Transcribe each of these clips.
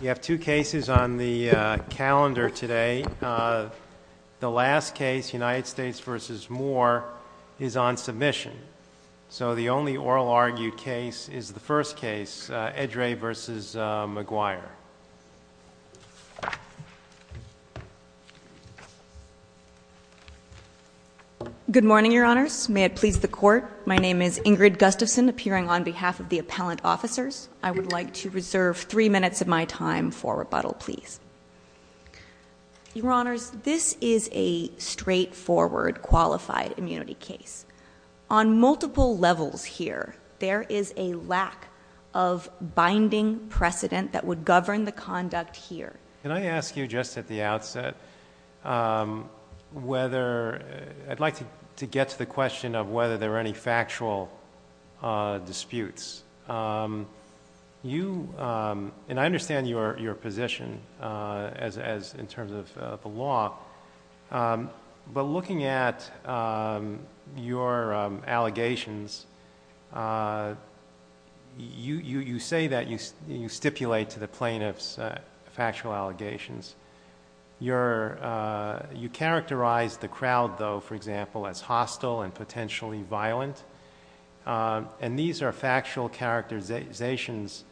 You have two cases on the calendar today. The last case, United States v. Moore, is on submission. So the only oral argued case is the first case, Edrei v. Maguire. Good morning, Your Honors. May it please the Court. My name is Ingrid Gustafson, appearing on behalf of the appellant officers. I would like to reserve three minutes of my time for rebuttal, please. Your Honors, this is a straightforward, qualified immunity case. On multiple levels here, there is a lack of binding precedent that would govern the conduct here. Can I ask you, just at the outset, I'd like to get to the question of whether there are any factual disputes. I understand your position in terms of the law, but looking at your allegations, you say that you stipulate to the plaintiffs factual allegations. You characterize the crowd, though, for example, as hostile and potentially violent, and these are factual characterizations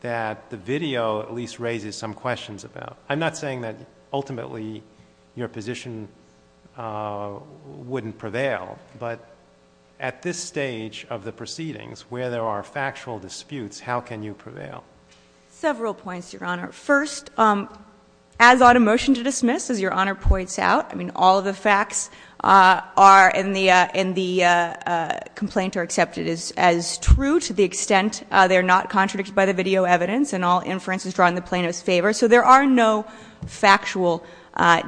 that the video at least raises some questions about. I'm not saying that ultimately your position wouldn't prevail, but at this stage of the proceedings where there are factual disputes, how can you prevail? Several points, Your Honor. First, as ought a motion to dismiss, as Your Honor points out, all of the facts in the complaint are accepted as true to the extent they are not contradicted by the video evidence, and all inference is drawn in the plaintiff's favor. So there are no factual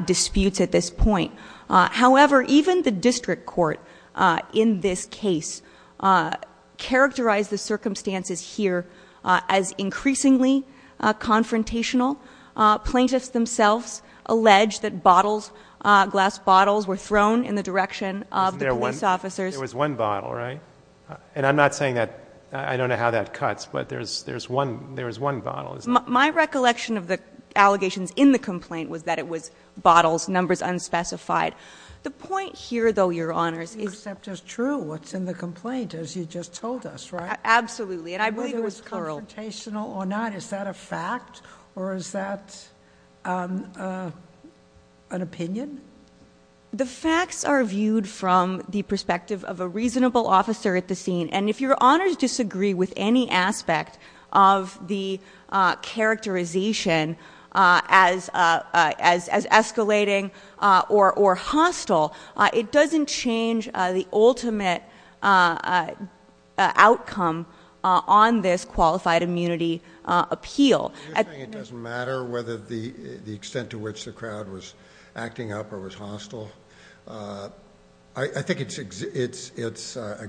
disputes at this point. However, even the district court in this case characterized the circumstances here as increasingly confrontational. Plaintiffs themselves allege that bottles, glass bottles, were thrown in the direction of the police officers. There was one bottle, right? And I'm not saying that I don't know how that cuts, but there was one bottle. My recollection of the allegations in the complaint was that it was bottles, numbers unspecified. The point here, though, Your Honors, is You accept as true what's in the complaint, as you just told us, right? Absolutely, and I believe it was plural. Whether it was confrontational or not, is that a fact, or is that an opinion? The facts are viewed from the perspective of a reasonable officer at the scene, and if Your Honors disagree with any aspect of the characterization as escalating or hostile, it doesn't change the ultimate outcome on this qualified immunity appeal. You're saying it doesn't matter whether the extent to which the crowd was acting up or was hostile? I think it's a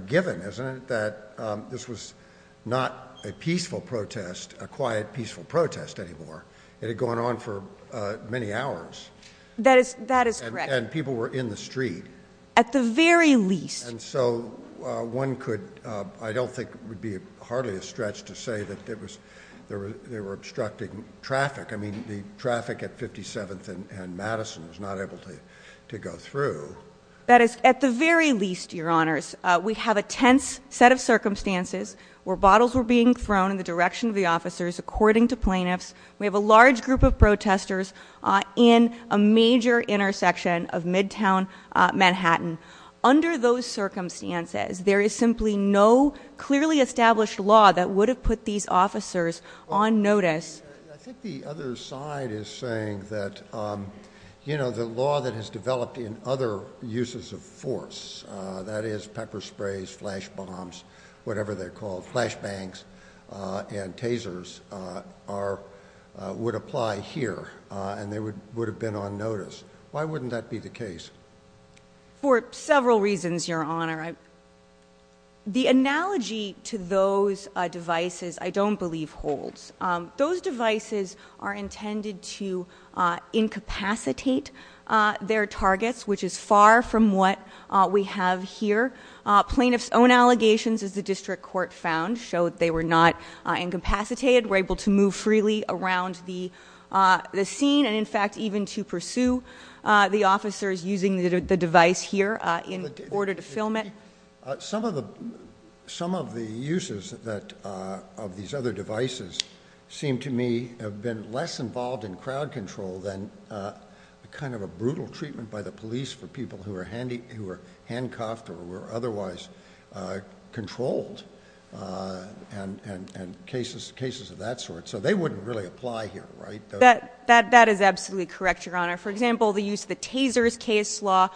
given, isn't it, that this was not a peaceful protest, a quiet, peaceful protest anymore. It had gone on for many hours. That is correct. And people were in the street. At the very least. And so one could, I don't think it would be hardly a stretch to say that they were obstructing traffic. I mean, the traffic at 57th and Madison was not able to go through. That is, at the very least, Your Honors, we have a tense set of circumstances where bottles were being thrown in the direction of the officers, according to plaintiffs. We have a large group of protesters in a major intersection of midtown Manhattan. Under those circumstances, there is simply no clearly established law that would have put these officers on notice. I think the other side is saying that, you know, the law that has developed in other uses of force, that is pepper sprays, flash bombs, whatever they're called, flash bangs and tasers, would apply here and they would have been on notice. Why wouldn't that be the case? For several reasons, Your Honor. The analogy to those devices I don't believe holds. Those devices are intended to incapacitate their targets, which is far from what we have here. Plaintiffs' own allegations, as the district court found, showed they were not incapacitated, were able to move freely around the scene and, in fact, even to pursue the officers using the device here in order to film it. Some of the uses of these other devices seem to me have been less involved in crowd control than kind of a brutal treatment by the police for people who were handcuffed or were otherwise controlled and cases of that sort. So they wouldn't really apply here, right? That is absolutely correct, Your Honor. For example, the use of the tasers case law.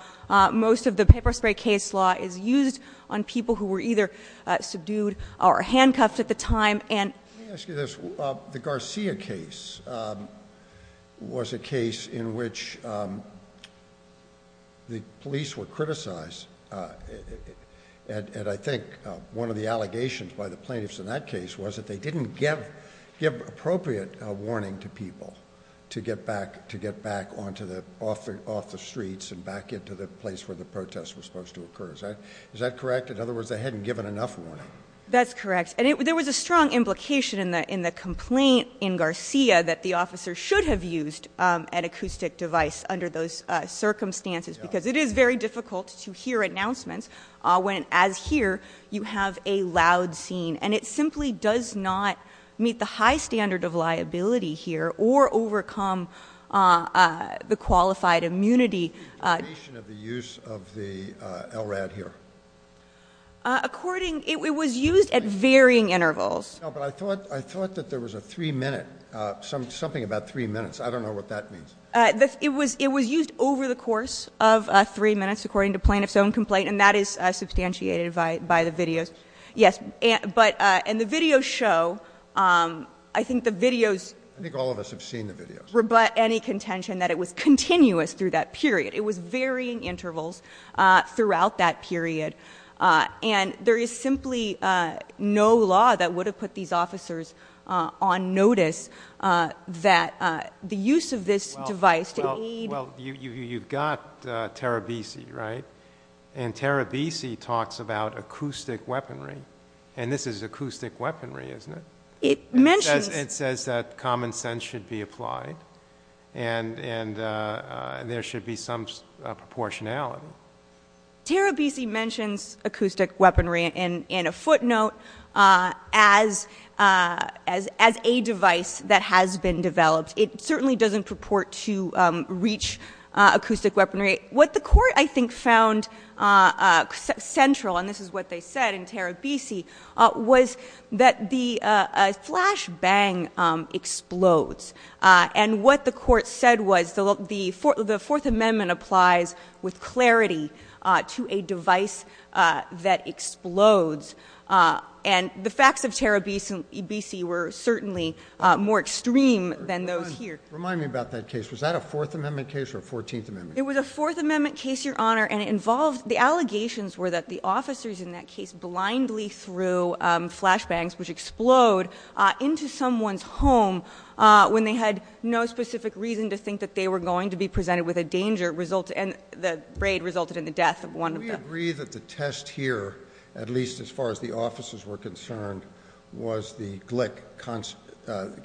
Most of the pepper spray case law is used on people who were either subdued or handcuffed at the time and Let me ask you this. The Garcia case was a case in which the police were criticized and I think one of the allegations by the plaintiffs in that case was that they didn't give appropriate warning to people to get back off the streets and back into the place where the protest was supposed to occur. Is that correct? In other words, they hadn't given enough warning. That's correct, and there was a strong implication in the complaint in Garcia that the officers should have used an acoustic device under those circumstances because it is very difficult to hear announcements when, as here, you have a loud scene and it simply does not meet the high standard of liability here or overcome the qualified immunity. The duration of the use of the LRAD here? According, it was used at varying intervals. No, but I thought that there was a three-minute, something about three minutes. I don't know what that means. It was used over the course of three minutes according to plaintiff's own complaint and that is substantiated by the videos. Yes, and the videos show, I think the videos. I think all of us have seen the videos. Rebut any contention that it was continuous through that period. It was varying intervals throughout that period, and there is simply no law that would have put these officers on notice that the use of this device to aid. Well, you've got Terabisi, right? And Terabisi talks about acoustic weaponry, and this is acoustic weaponry, isn't it? It mentions. It says that common sense should be applied and there should be some proportionality. Terabisi mentions acoustic weaponry in a footnote as a device that has been developed. It certainly doesn't purport to reach acoustic weaponry. What the Court, I think, found central, and this is what they said in Terabisi, was that the flash bang explodes. And what the Court said was the Fourth Amendment applies with clarity to a device that explodes. And the facts of Terabisi were certainly more extreme than those here. Remind me about that case. Was that a Fourth Amendment case or a Fourteenth Amendment case? It was a Fourth Amendment case, Your Honor, and it involved. The allegations were that the officers in that case blindly threw flash bangs, which explode, into someone's home when they had no specific reason to think that they were going to be presented with a danger, and the raid resulted in the death of one of them. Do we agree that the test here, at least as far as the officers were concerned, was the Glick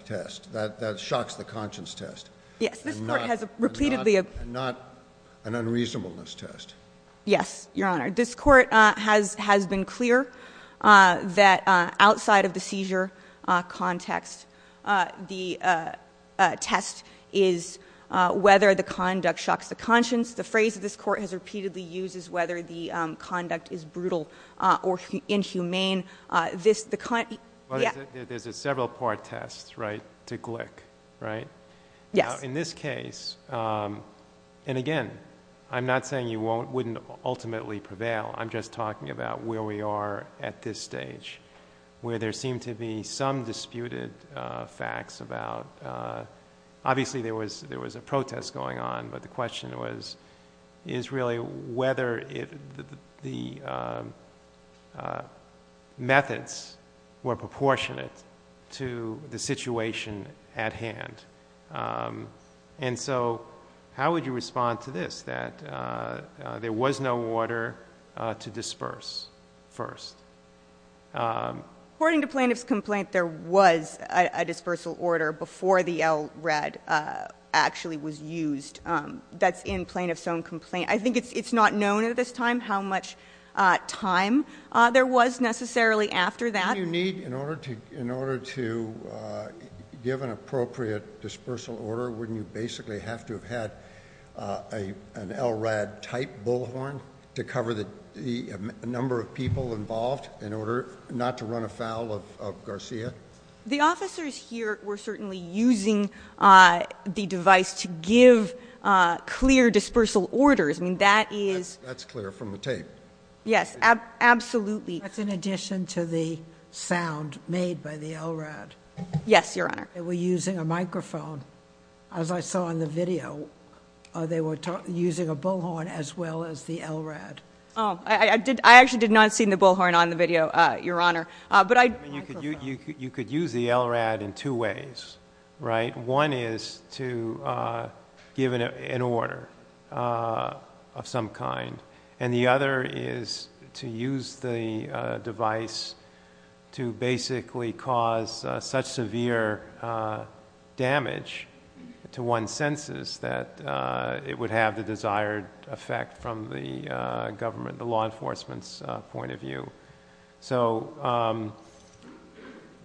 test, that shocks the conscience test? Yes. And not an unreasonableness test? Yes, Your Honor. This Court has been clear that outside of the seizure context, the test is whether the conduct shocks the conscience. The phrase that this Court has repeatedly used is whether the conduct is brutal or inhumane. There's a several-part test, right, to Glick, right? Yes. Now, in this case, and again, I'm not saying you wouldn't ultimately prevail. I'm just talking about where we are at this stage, where there seem to be some disputed facts about... is really whether the methods were proportionate to the situation at hand. And so, how would you respond to this, that there was no order to disperse first? According to plaintiff's complaint, there was a dispersal order before the LRAD actually was used. That's in plaintiff's own complaint. I think it's not known at this time how much time there was necessarily after that. Wouldn't you need, in order to give an appropriate dispersal order, wouldn't you basically have to have had an LRAD-type bullhorn to cover the number of people involved in order not to run afoul of Garcia? The officers here were certainly using the device to give clear dispersal orders. I mean, that is... That's clear from the tape. Yes, absolutely. That's in addition to the sound made by the LRAD. Yes, Your Honor. They were using a microphone, as I saw in the video. They were using a bullhorn as well as the LRAD. I actually did not see the bullhorn on the video, Your Honor. You could use the LRAD in two ways, right? One is to give an order of some kind, and the other is to use the device to basically cause such severe damage to one's senses that it would have the desired effect from the government, the law enforcement's point of view. So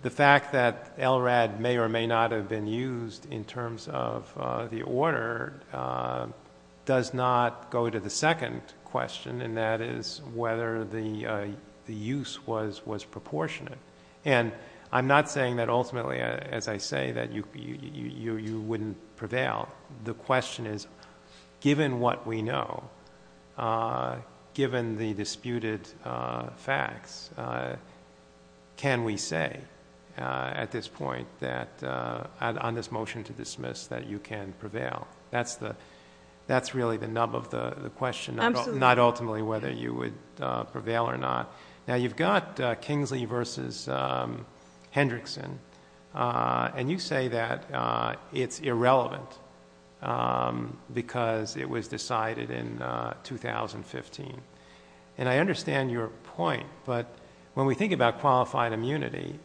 the fact that LRAD may or may not have been used in terms of the order does not go to the second question, and that is whether the use was proportionate. And I'm not saying that ultimately, as I say, that you wouldn't prevail. The question is, given what we know, given the disputed facts, can we say at this point on this motion to dismiss that you can prevail? That's really the nub of the question, not ultimately whether you would prevail or not. Now, you've got Kingsley v. Hendrickson, and you say that it's irrelevant because it was decided in 2015. And I understand your point, but when we think about qualified immunity,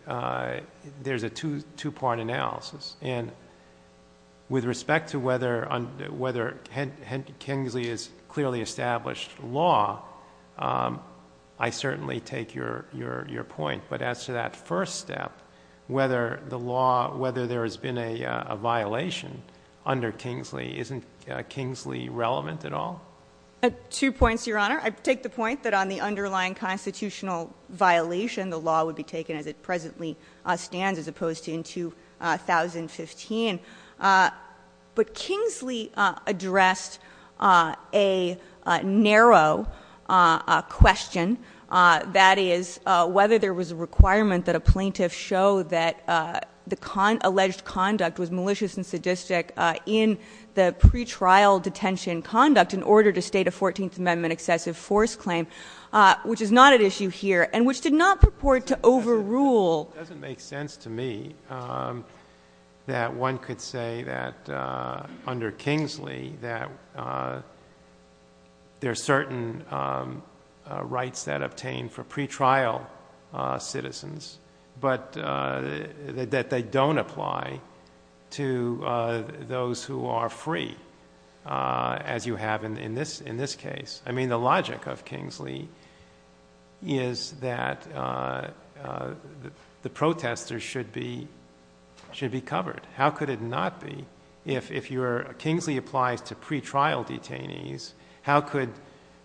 there's a two-part analysis. And with respect to whether Kingsley is clearly established law, I certainly take your point. But as to that first step, whether there has been a violation under Kingsley, isn't Kingsley relevant at all? Two points, Your Honor. I take the point that on the underlying constitutional violation, the law would be taken as it presently stands as opposed to in 2015. But Kingsley addressed a narrow question, that is, whether there was a requirement that a plaintiff show that the alleged conduct was malicious and sadistic in the pretrial detention conduct in order to state a 14th Amendment excessive force claim, which is not at issue here, and which did not purport to overrule. It doesn't make sense to me that one could say that under Kingsley that there are certain rights that obtain for pretrial citizens, but that they don't apply to those who are free, as you have in this case. I mean, the logic of Kingsley is that the protesters should be covered. How could it not be? If Kingsley applies to pretrial detainees, how could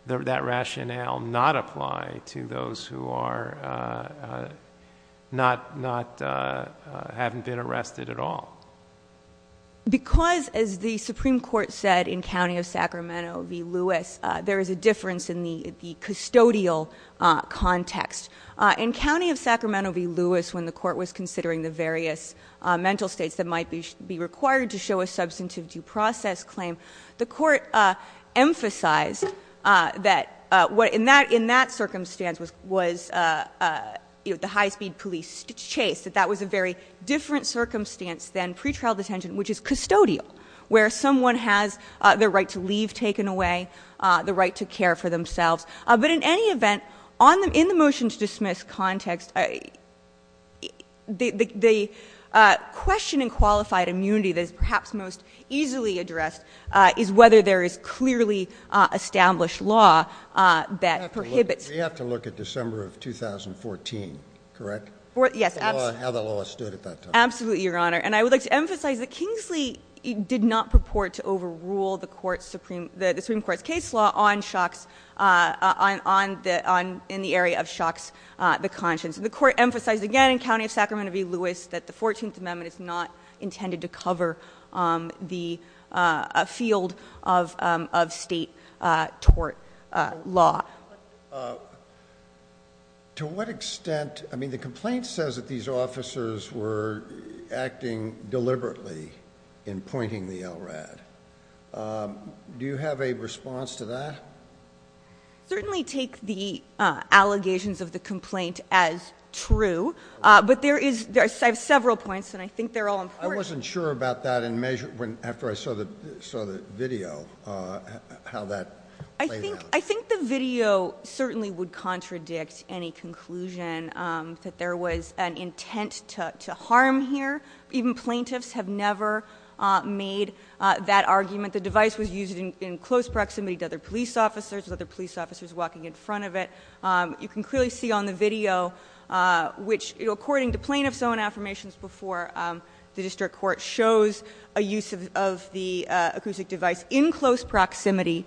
that rationale not apply to those who haven't been arrested at all? Because, as the Supreme Court said in County of Sacramento v. Lewis, there is a difference in the custodial context. In County of Sacramento v. Lewis, when the Court was considering the various mental states that might be required to show a substantive due process claim, the Court emphasized that in that circumstance was the high-speed police chase, that that was a very different circumstance than pretrial detention, which is custodial, where someone has the right to leave taken away, the right to care for themselves. But in any event, in the motion-to-dismiss context, the question in qualified immunity that is perhaps most easily addressed is whether there is clearly established law that prohibits it. We have to look at December of 2014, correct? Yes. How the law stood at that time. Absolutely, Your Honor. And I would like to emphasize that Kingsley did not purport to overrule the Supreme Court's case law in the area of Shocks v. Conscience. The Court emphasized again in County of Sacramento v. Lewis that the 14th Amendment is not intended to cover the field of state tort law. To what extent, I mean, the complaint says that these officers were acting deliberately in pointing the LRAD. Do you have a response to that? I certainly take the allegations of the complaint as true, but there is, I have several points, and I think they're all important. I wasn't sure about that after I saw the video, how that played out. I think the video certainly would contradict any conclusion that there was an intent to harm here. Even plaintiffs have never made that argument. The device was used in close proximity to other police officers, with other police officers walking in front of it. You can clearly see on the video, which according to plaintiff's own affirmations before, the District Court shows a use of the acoustic device in close proximity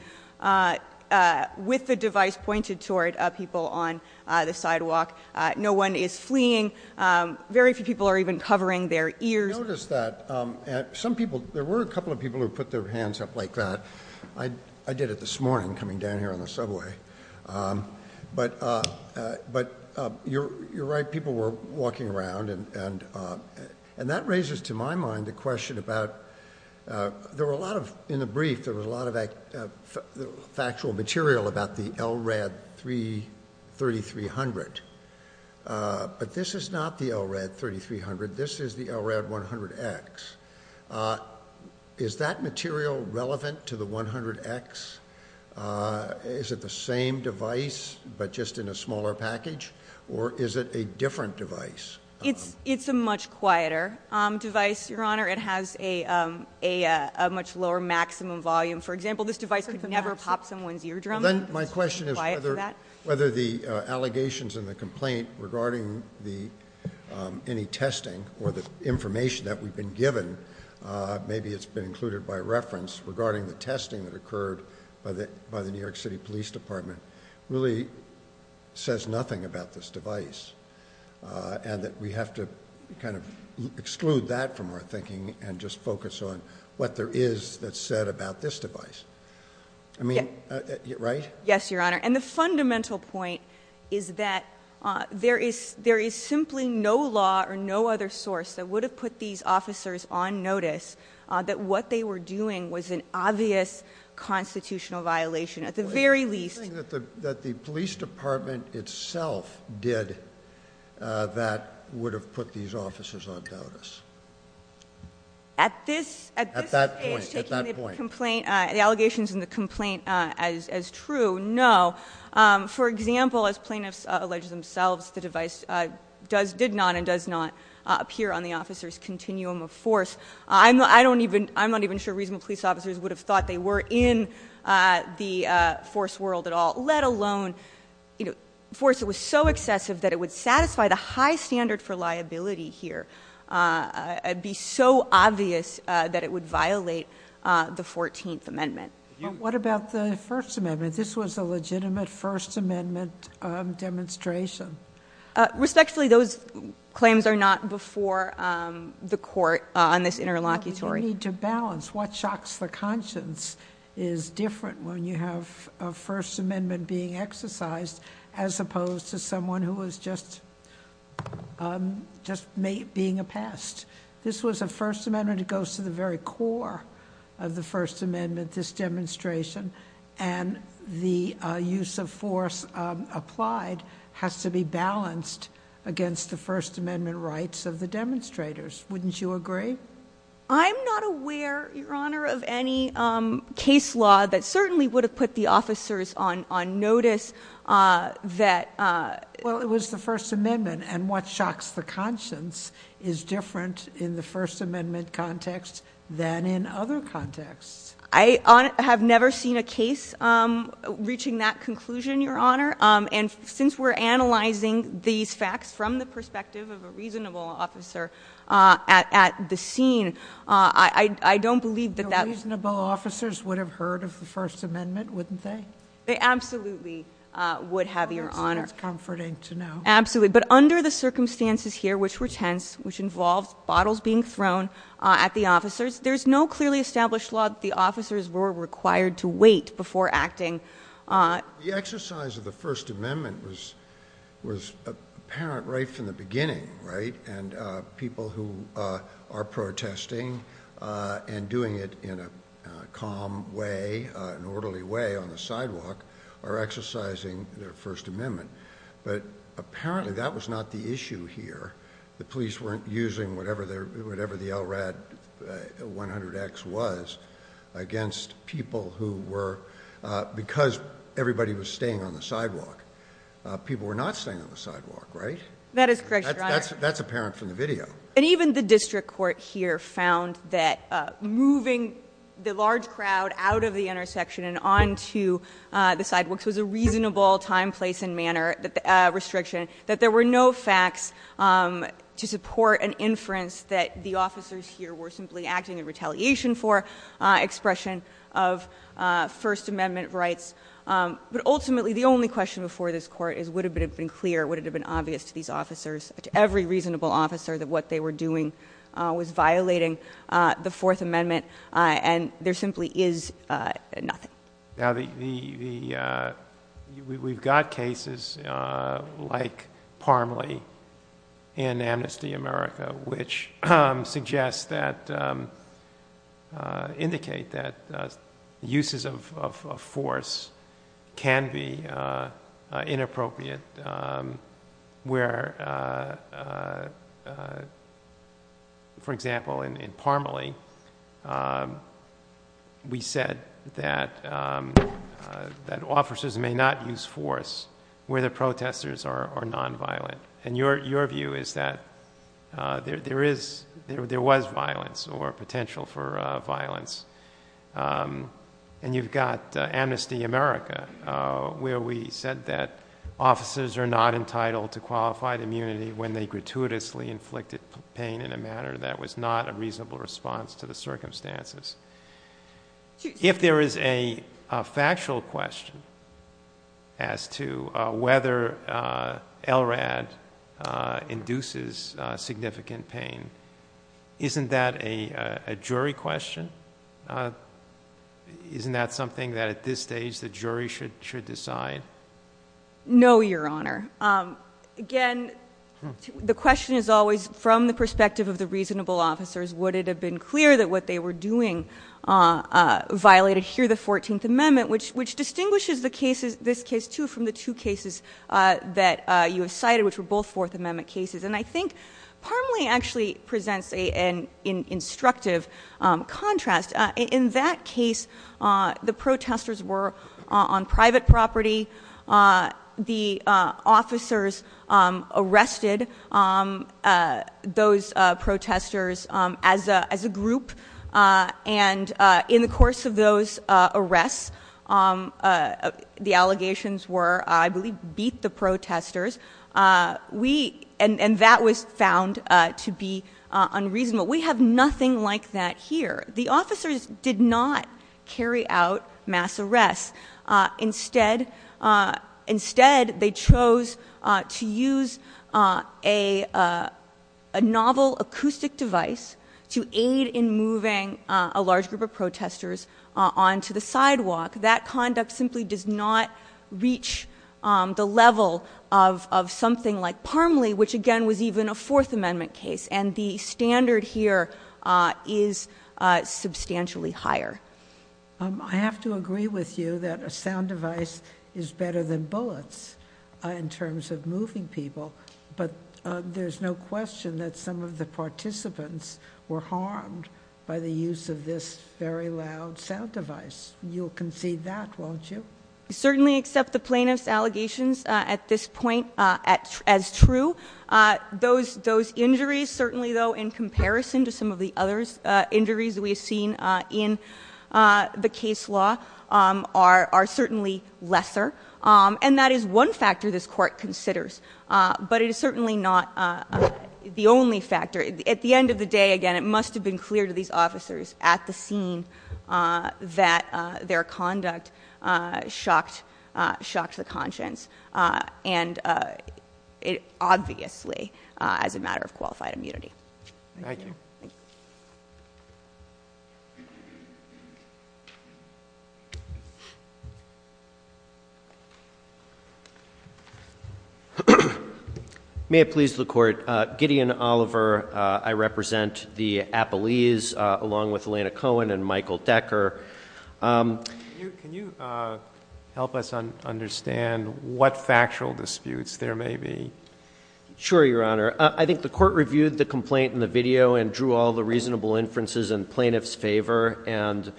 with the device pointed toward people on the sidewalk. No one is fleeing. Very few people are even covering their ears. Notice that some people, there were a couple of people who put their hands up like that. I did it this morning coming down here on the subway. But you're right, people were walking around, and that raises to my mind the question about, there were a lot of, in the brief, there was a lot of factual material about the LRAD 3300. But this is not the LRAD 3300. This is the LRAD 100X. Is that material relevant to the 100X? Is it the same device, but just in a smaller package? Or is it a different device? It's a much quieter device, Your Honor. It has a much lower maximum volume. For example, this device could never pop someone's eardrum. My question is whether the allegations in the complaint regarding any testing or the information that we've been given, maybe it's been included by reference, regarding the testing that occurred by the New York City Police Department, really says nothing about this device. And that we have to kind of exclude that from our thinking and just focus on what there is that's said about this device. I mean, right? Yes, Your Honor. And the fundamental point is that there is simply no law or no other source that would have put these officers on notice that what they were doing was an obvious constitutional violation, at the very least. What do you think that the police department itself did that would have put these officers on notice? At this stage, taking the complaint, the allegations in the complaint as true, no. For example, as plaintiffs allege themselves, the device did not and does not appear on the officer's continuum of force. I'm not even sure reasonable police officers would have thought they were in the force world at all, let alone force that was so excessive that it would satisfy the high standard for liability here. It would be so obvious that it would violate the 14th Amendment. What about the First Amendment? This was a legitimate First Amendment demonstration. Respectfully, those claims are not before the court on this interlocutory. We need to balance. What shocks the conscience is different when you have a First Amendment being exercised as opposed to someone who was just being a pest. This was a First Amendment. It goes to the very core of the First Amendment, this demonstration, and the use of force applied has to be balanced against the First Amendment rights of the demonstrators. Wouldn't you agree? I'm not aware, Your Honor, of any case law that certainly would have put the officers on notice that— Well, it was the First Amendment, and what shocks the conscience is different in the First Amendment context than in other contexts. I have never seen a case reaching that conclusion, Your Honor, and since we're analyzing these facts from the perspective of a reasonable officer at the scene, I don't believe that that— The reasonable officers would have heard of the First Amendment, wouldn't they? They absolutely would have, Your Honor. That's comforting to know. Absolutely. But under the circumstances here, which were tense, which involved bottles being thrown at the officers, there's no clearly established law that the officers were required to wait before acting. The exercise of the First Amendment was apparent right from the beginning, right? And people who are protesting and doing it in a calm way, an orderly way on the sidewalk, are exercising their First Amendment. But apparently that was not the issue here. The police weren't using whatever the LRAD 100X was against people who were—because everybody was staying on the sidewalk. People were not staying on the sidewalk, right? That is correct, Your Honor. That's apparent from the video. And even the district court here found that moving the large crowd out of the intersection and onto the sidewalks was a reasonable time, place, and manner restriction, that there were no facts to support an inference that the officers here were simply acting in retaliation for expression of First Amendment rights. But ultimately, the only question before this Court is would it have been clear, would it have been obvious to these officers, to every reasonable officer, that what they were doing was violating the Fourth Amendment, and there simply is nothing. Now, we've got cases like Parmelee in Amnesty America, which suggests that—indicate that uses of force can be inappropriate, where, for example, in Parmelee, we said that officers may not use force where the protesters are nonviolent. And your view is that there was violence or potential for violence. And you've got Amnesty America, where we said that officers are not entitled to qualified immunity when they gratuitously inflicted pain in a manner that was not a reasonable response to the circumstances. If there is a factual question as to whether LRAD induces significant pain, isn't that a jury question? Isn't that something that, at this stage, the jury should decide? No, Your Honor. Again, the question is always, from the perspective of the reasonable officers, would it have been clear that what they were doing violated here the Fourteenth Amendment, which distinguishes this case, too, from the two cases that you have cited, which were both Fourth Amendment cases. And I think Parmelee actually presents an instructive contrast. In that case, the protesters were on private property. The officers arrested those protesters as a group. And in the course of those arrests, the allegations were, I believe, beat the protesters. We—and that was found to be unreasonable. We have nothing like that here. The officers did not carry out mass arrests. Instead, they chose to use a novel acoustic device to aid in moving a large group of protesters onto the sidewalk. That conduct simply does not reach the level of something like Parmelee, which, again, was even a Fourth Amendment case. And the standard here is substantially higher. I have to agree with you that a sound device is better than bullets in terms of moving people. But there's no question that some of the participants were harmed by the use of this very loud sound device. You'll concede that, won't you? I certainly accept the plaintiff's allegations at this point as true. Those injuries, certainly, though, in comparison to some of the other injuries we have seen in the case law, are certainly lesser. And that is one factor this Court considers. But it is certainly not the only factor. At the end of the day, again, it must have been clear to these officers at the scene that their conduct shocked the conscience. And it obviously, as a matter of qualified immunity. Thank you. Thank you. May it please the Court, Gideon Oliver, I represent the Appalese, along with Elena Cohen and Michael Decker. Can you help us understand what factual disputes there may be? Sure, Your Honor. I think the Court reviewed the complaint in the video and drew all the reasonable inferences in plaintiff's favor. And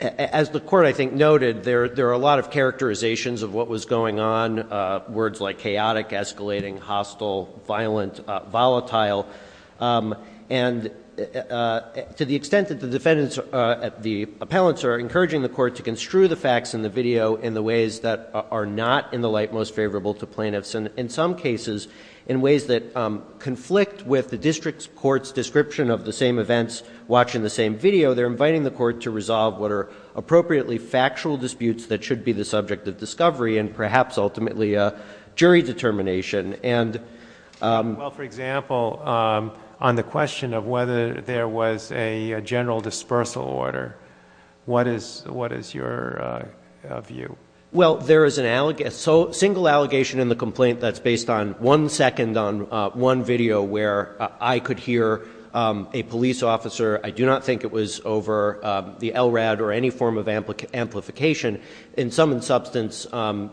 as the Court, I think, noted, there are a lot of characterizations of what was going on, words like chaotic, escalating, hostile, violent, volatile. And to the extent that the defendants, the appellants, are encouraging the Court to construe the facts in the video in the ways that are not in the light most favorable to plaintiffs. And in some cases, in ways that conflict with the district court's description of the same events, watching the same video, they're inviting the Court to resolve what are appropriately factual disputes that should be the subject of discovery and perhaps, ultimately, jury determination. Well, for example, on the question of whether there was a general dispersal order, what is your view? Well, there is a single allegation in the complaint that's based on one second on one video where I could hear a police officer. I do not think it was over the LRAD or any form of amplification. In some substance,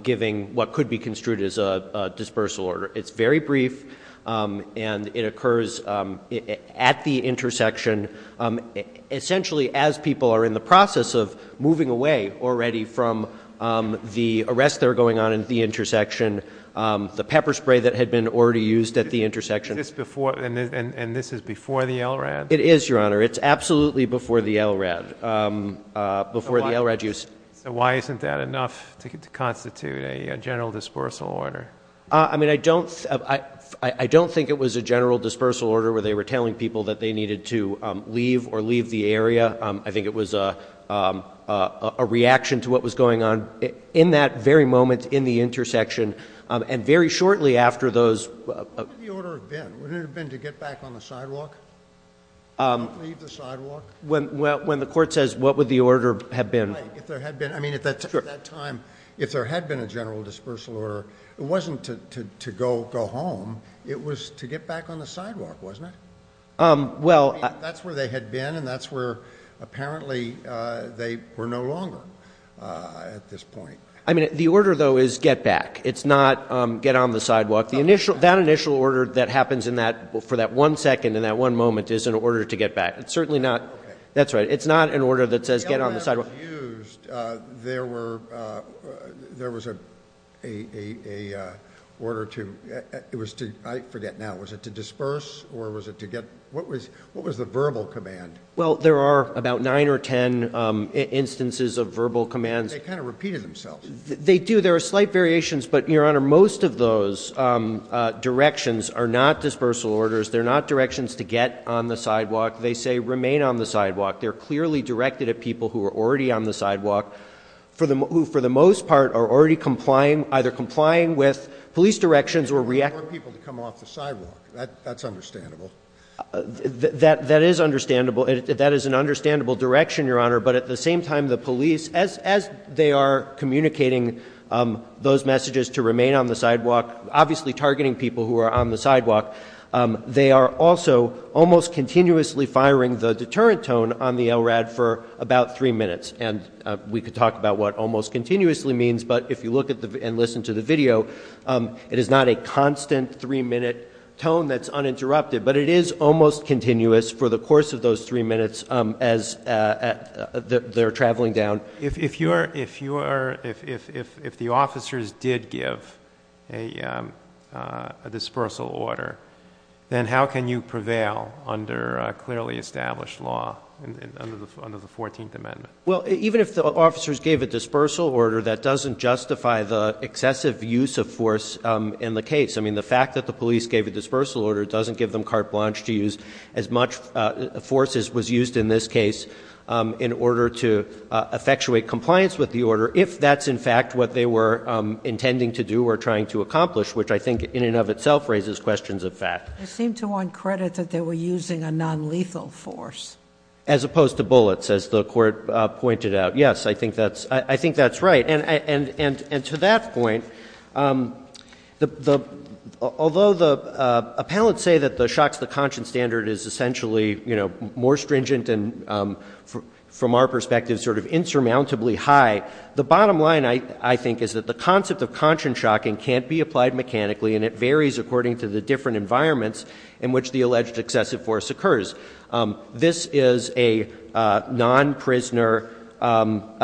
giving what could be construed as a dispersal order. It's very brief and it occurs at the intersection. Essentially, as people are in the process of moving away already from the arrests that are going on at the intersection, the pepper spray that had been already used at the intersection. Is this before, and this is before the LRAD? It is, Your Honor. It's absolutely before the LRAD. Before the LRAD use. So why isn't that enough to constitute a general dispersal order? I mean, I don't think it was a general dispersal order where they were telling people that they needed to leave or leave the area. I think it was a reaction to what was going on in that very moment in the intersection and very shortly after those. What would the order have been? Would it have been to get back on the sidewalk? Leave the sidewalk? When the court says what would the order have been? If there had been, I mean, at that time, if there had been a general dispersal order, it wasn't to go home. It was to get back on the sidewalk, wasn't it? Well. That's where they had been and that's where apparently they were no longer at this point. I mean, the order, though, is get back. It's not get on the sidewalk. That initial order that happens for that one second and that one moment is an order to get back. It's certainly not. That's right. It's not an order that says get on the sidewalk. When the LRAD was used, there was an order to, I forget now, was it to disperse or was it to get, what was the verbal command? Well, there are about nine or ten instances of verbal commands. They kind of repeated themselves. They do. There are slight variations, but, Your Honor, most of those directions are not dispersal orders. They're not directions to get on the sidewalk. They say remain on the sidewalk. They're clearly directed at people who are already on the sidewalk, who for the most part are already either complying with police directions or reacting. They want people to come off the sidewalk. That's understandable. That is understandable. That is an understandable direction, Your Honor. But at the same time, the police, as they are communicating those messages to remain on the sidewalk, obviously targeting people who are on the sidewalk, they are also almost continuously firing the deterrent tone on the LRAD for about three minutes. And we could talk about what almost continuously means, but if you look and listen to the video, it is not a constant three-minute tone that's uninterrupted. But it is almost continuous for the course of those three minutes as they're traveling down. If the officers did give a dispersal order, then how can you prevail under clearly established law under the 14th Amendment? Well, even if the officers gave a dispersal order, that doesn't justify the excessive use of force in the case. I mean, the fact that the police gave a dispersal order doesn't give them carte blanche to use as much force as was used in this case in order to effectuate compliance with the order if that's in fact what they were intending to do or trying to accomplish, which I think in and of itself raises questions of fact. They seem to want credit that they were using a nonlethal force. As opposed to bullets, as the Court pointed out. Yes, I think that's right. And to that point, although the appellants say that the shocks to the conscience standard is essentially more stringent and from our perspective sort of insurmountably high, the bottom line I think is that the concept of conscience shocking can't be applied mechanically and it varies according to the different environments in which the alleged excessive force occurs. This is a non-prisoner,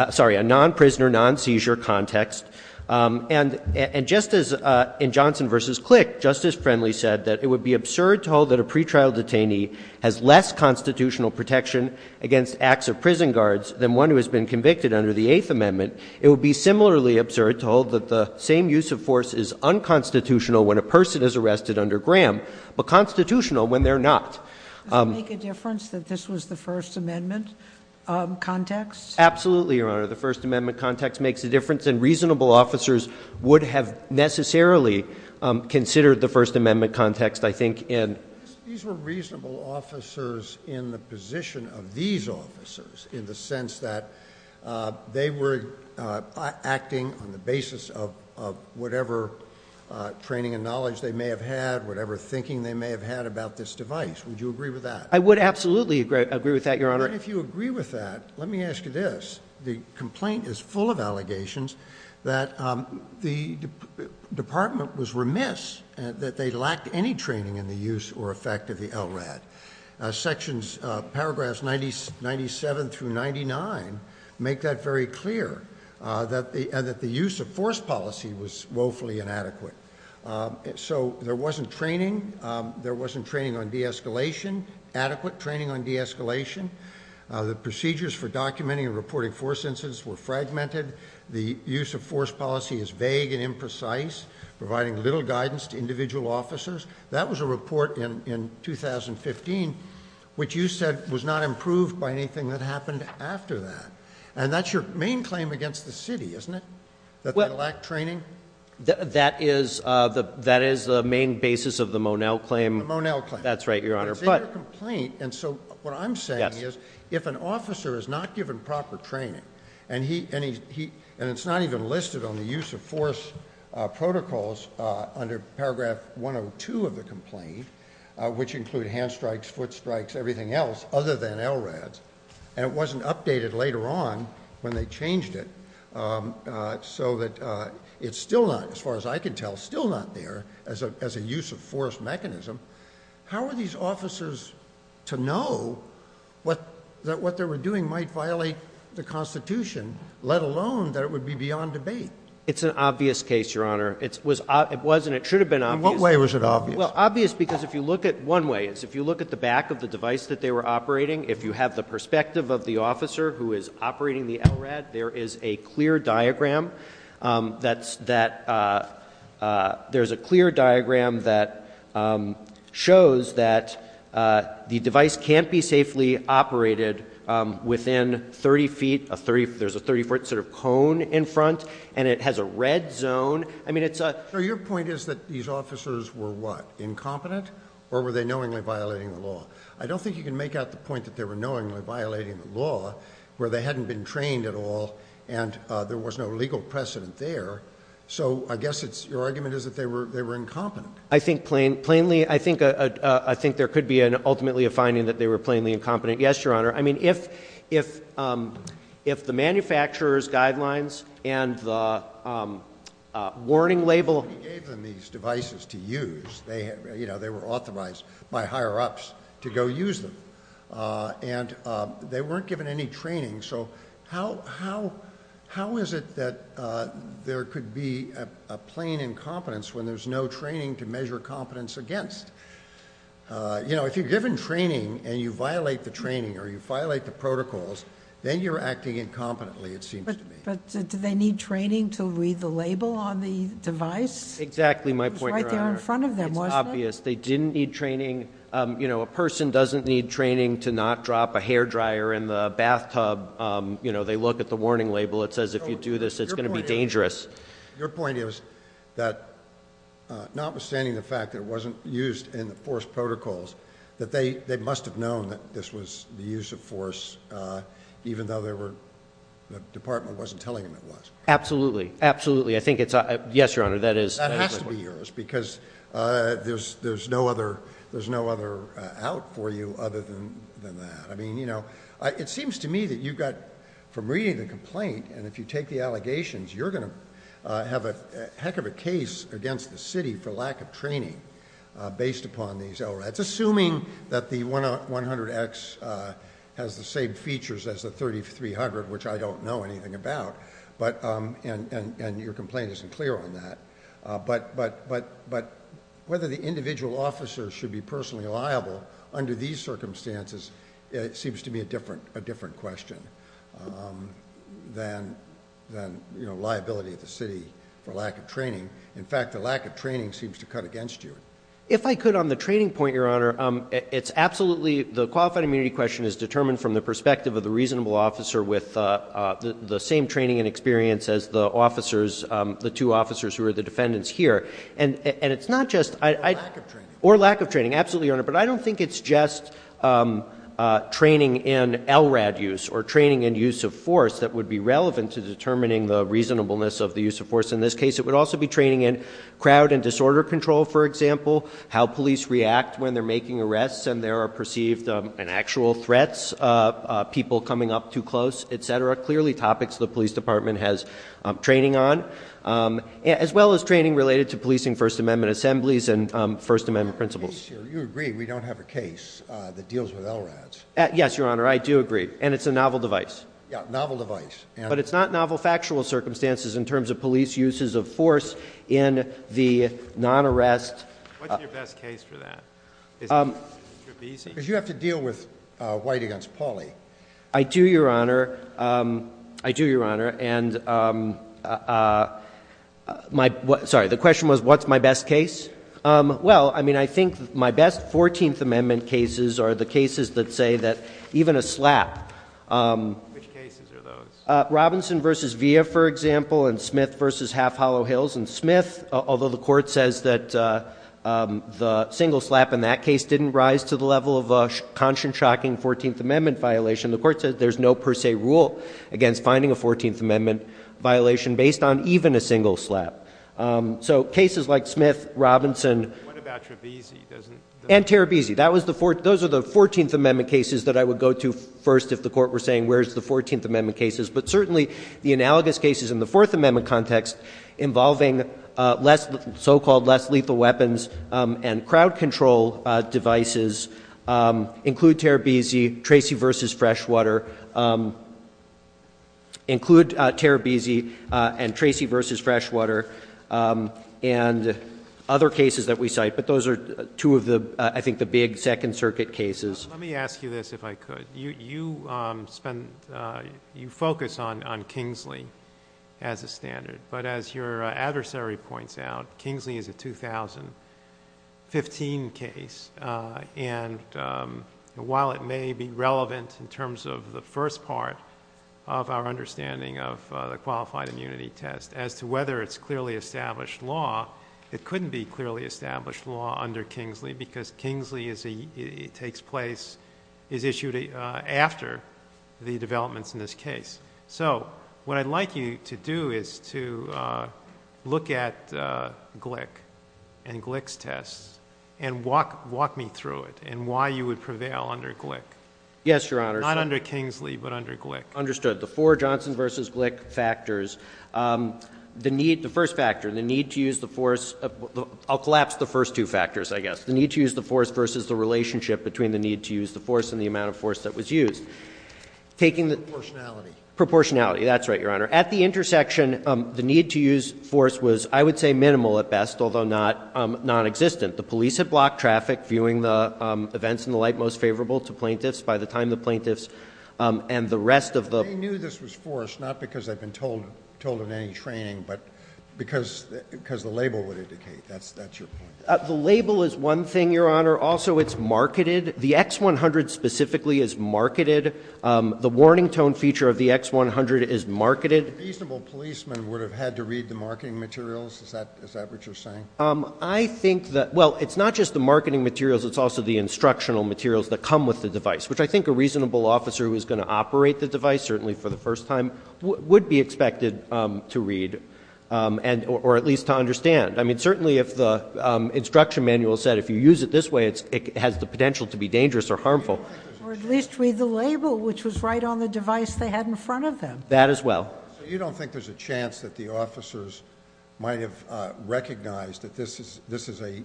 sorry, a non-prisoner, non-seizure context. And just as in Johnson v. Click, Justice Friendly said that it would be absurd to hold that a pretrial detainee has less constitutional protection against acts of prison guards than one who has been convicted under the Eighth Amendment. It would be similarly absurd to hold that the same use of force is unconstitutional when a person is arrested under Graham, but constitutional when they're not. Does it make a difference that this was the First Amendment context? Absolutely, Your Honor. The First Amendment context makes a difference and reasonable officers would have necessarily considered the First Amendment context, I think. These were reasonable officers in the position of these officers in the sense that they were acting on the basis of whatever training and knowledge they may have had, whatever thinking they may have had about this device. Would you agree with that? I would absolutely agree with that, Your Honor. If you agree with that, let me ask you this. The complaint is full of allegations that the department was remiss that they lacked any training in the use or effect of the LRAD. Sections, paragraphs 97 through 99, make that very clear, that the use of force policy was woefully inadequate. So there wasn't training. There wasn't training on de-escalation, adequate training on de-escalation. The procedures for documenting and reporting force incidents were fragmented. The use of force policy is vague and imprecise, providing little guidance to individual officers. That was a report in 2015, which you said was not improved by anything that happened after that. And that's your main claim against the city, isn't it, that they lacked training? That is the main basis of the Monell claim. The Monell claim. That's right, Your Honor. It's in your complaint, and so what I'm saying is, if an officer is not given proper training, and it's not even listed on the use of force protocols under paragraph 102 of the complaint, which include hand strikes, foot strikes, everything else, other than LRADs, and it wasn't updated later on when they changed it so that it's still not, as far as I can tell, still not there as a use of force mechanism, how are these officers to know that what they were doing might violate the Constitution, let alone that it would be beyond debate? It's an obvious case, Your Honor. It was and it should have been obvious. In what way was it obvious? Well, obvious because if you look at it one way, it's obvious. If you look at the back of the device that they were operating, if you have the perspective of the officer who is operating the LRAD, there is a clear diagram that shows that the device can't be safely operated within 30 feet. There's a 30-foot sort of cone in front, and it has a red zone. So your point is that these officers were what, incompetent? Or were they knowingly violating the law? I don't think you can make out the point that they were knowingly violating the law, where they hadn't been trained at all, and there was no legal precedent there. So I guess your argument is that they were incompetent. I think there could be ultimately a finding that they were plainly incompetent. Yes, Your Honor. I mean, if the manufacturer's guidelines and the warning label gave them these devices to use, they were authorized by higher-ups to go use them, and they weren't given any training, so how is it that there could be a plain incompetence when there's no training to measure competence against? You know, if you're given training and you violate the training or you violate the protocols, then you're acting incompetently, it seems to me. But do they need training to read the label on the device? Exactly, my point, Your Honor. It was right there in front of them, wasn't it? It's obvious. They didn't need training. You know, a person doesn't need training to not drop a hair dryer in the bathtub. You know, they look at the warning label. It says if you do this, it's going to be dangerous. Your point is that notwithstanding the fact that it wasn't used in the force protocols, that they must have known that this was the use of force even though the department wasn't telling them it was. Absolutely, absolutely. I think it's a yes, Your Honor. That has to be yours because there's no other out for you other than that. I mean, you know, it seems to me that you got from reading the complaint and if you take the allegations, you're going to have a heck of a case against the city for lack of training based upon these LRADs, assuming that the 100X has the same features as the 3300, which I don't know anything about, and your complaint isn't clear on that. But whether the individual officer should be personally liable under these circumstances, it seems to me a different question than, you know, liability of the city for lack of training. In fact, the lack of training seems to cut against you. If I could on the training point, Your Honor, it's absolutely the qualified immunity question is determined from the perspective of the reasonable officer with the same training and experience as the officers, the two officers who are the defendants here. And it's not just... Or lack of training. Absolutely, Your Honor. But I don't think it's just training in LRAD use or training in use of force that would be relevant to determining the reasonableness of the use of force in this case. It would also be training in crowd and disorder control, for example, how police react when they're making arrests and there are perceived and actual threats, people coming up too close, et cetera, clearly topics the police department has training on, as well as training related to policing First Amendment assemblies and First Amendment principles. You agree we don't have a case that deals with LRADs. Yes, Your Honor. I do agree. And it's a novel device. Yeah, novel device. But it's not novel factual circumstances in terms of police uses of force in the non-arrest... What's your best case for that? Because you have to deal with White against Pawley. I do, Your Honor. I do, Your Honor. And my question was, what's my best case? Well, I mean, I think my best 14th Amendment cases are the cases that say that even a slap... Which cases are those? Robinson v. Villa, for example, and Smith v. Half Hollow Hills. And Smith, although the court says that the single slap in that case didn't rise to the level of a 14th Amendment violation, the court says there's no per se rule against finding a 14th Amendment violation based on even a single slap. So cases like Smith, Robinson... What about Terebizi? And Terebizi. Those are the 14th Amendment cases that I would go to first if the court were saying, where's the 14th Amendment cases? But certainly the analogous cases in the Fourth Amendment context involving so-called less lethal weapons and crowd control devices include Terebizi, Tracy v. Freshwater, include Terebizi and Tracy v. Freshwater and other cases that we cite. But those are two of the, I think, the big Second Circuit cases. Let me ask you this, if I could. You focus on Kingsley as a standard. But as your adversary points out, Kingsley is a 2015 case. And while it may be relevant in terms of the first part of our understanding of the Qualified Immunity Test as to whether it's clearly established law, it couldn't be clearly established law under Kingsley because Kingsley takes place, is issued after the developments in this case. So what I'd like you to do is to look at Glick and Glick's tests and walk me through it and why you would prevail under Glick. Yes, Your Honor. Not under Kingsley, but under Glick. Understood. The four Johnson v. Glick factors. The first factor, the need to use the force. I'll collapse the first two factors, I guess. The need to use the force versus the relationship between the need to use the force and the amount of force that was used. Proportionality. Proportionality. That's right, Your Honor. At the intersection, the need to use force was, I would say, minimal at best, although nonexistent. The police had blocked traffic viewing the events and the like most favorable to plaintiffs. By the time the plaintiffs and the rest of the- They knew this was forced, not because they'd been told in any training, but because the label would indicate. That's your point. The label is one thing, Your Honor. Also, it's marketed. The X100 specifically is marketed. The warning tone feature of the X100 is marketed. A reasonable policeman would have had to read the marketing materials. Is that what you're saying? I think that- Well, it's not just the marketing materials. It's also the instructional materials that come with the device, which I think a reasonable officer who is going to operate the device, certainly for the first time, would be expected to read or at least to understand. I mean, certainly if the instruction manual said if you use it this way, it has the potential to be dangerous or harmful. Or at least read the label, which was right on the device they had in front of them. That as well. So you don't think there's a chance that the officers might have recognized that this is a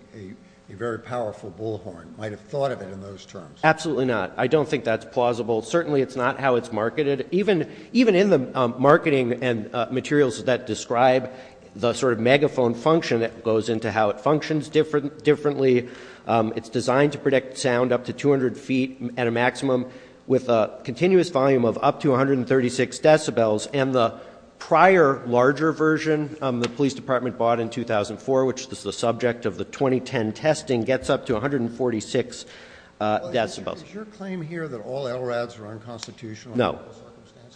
very powerful bullhorn, might have thought of it in those terms? Absolutely not. Certainly it's not how it's marketed. Even in the marketing materials that describe the sort of megaphone function, it goes into how it functions differently. It's designed to predict sound up to 200 feet at a maximum with a continuous volume of up to 136 decibels. And the prior larger version the police department bought in 2004, which is the subject of the 2010 testing, gets up to 146 decibels. Is your claim here that all LRADs are unconstitutional? No.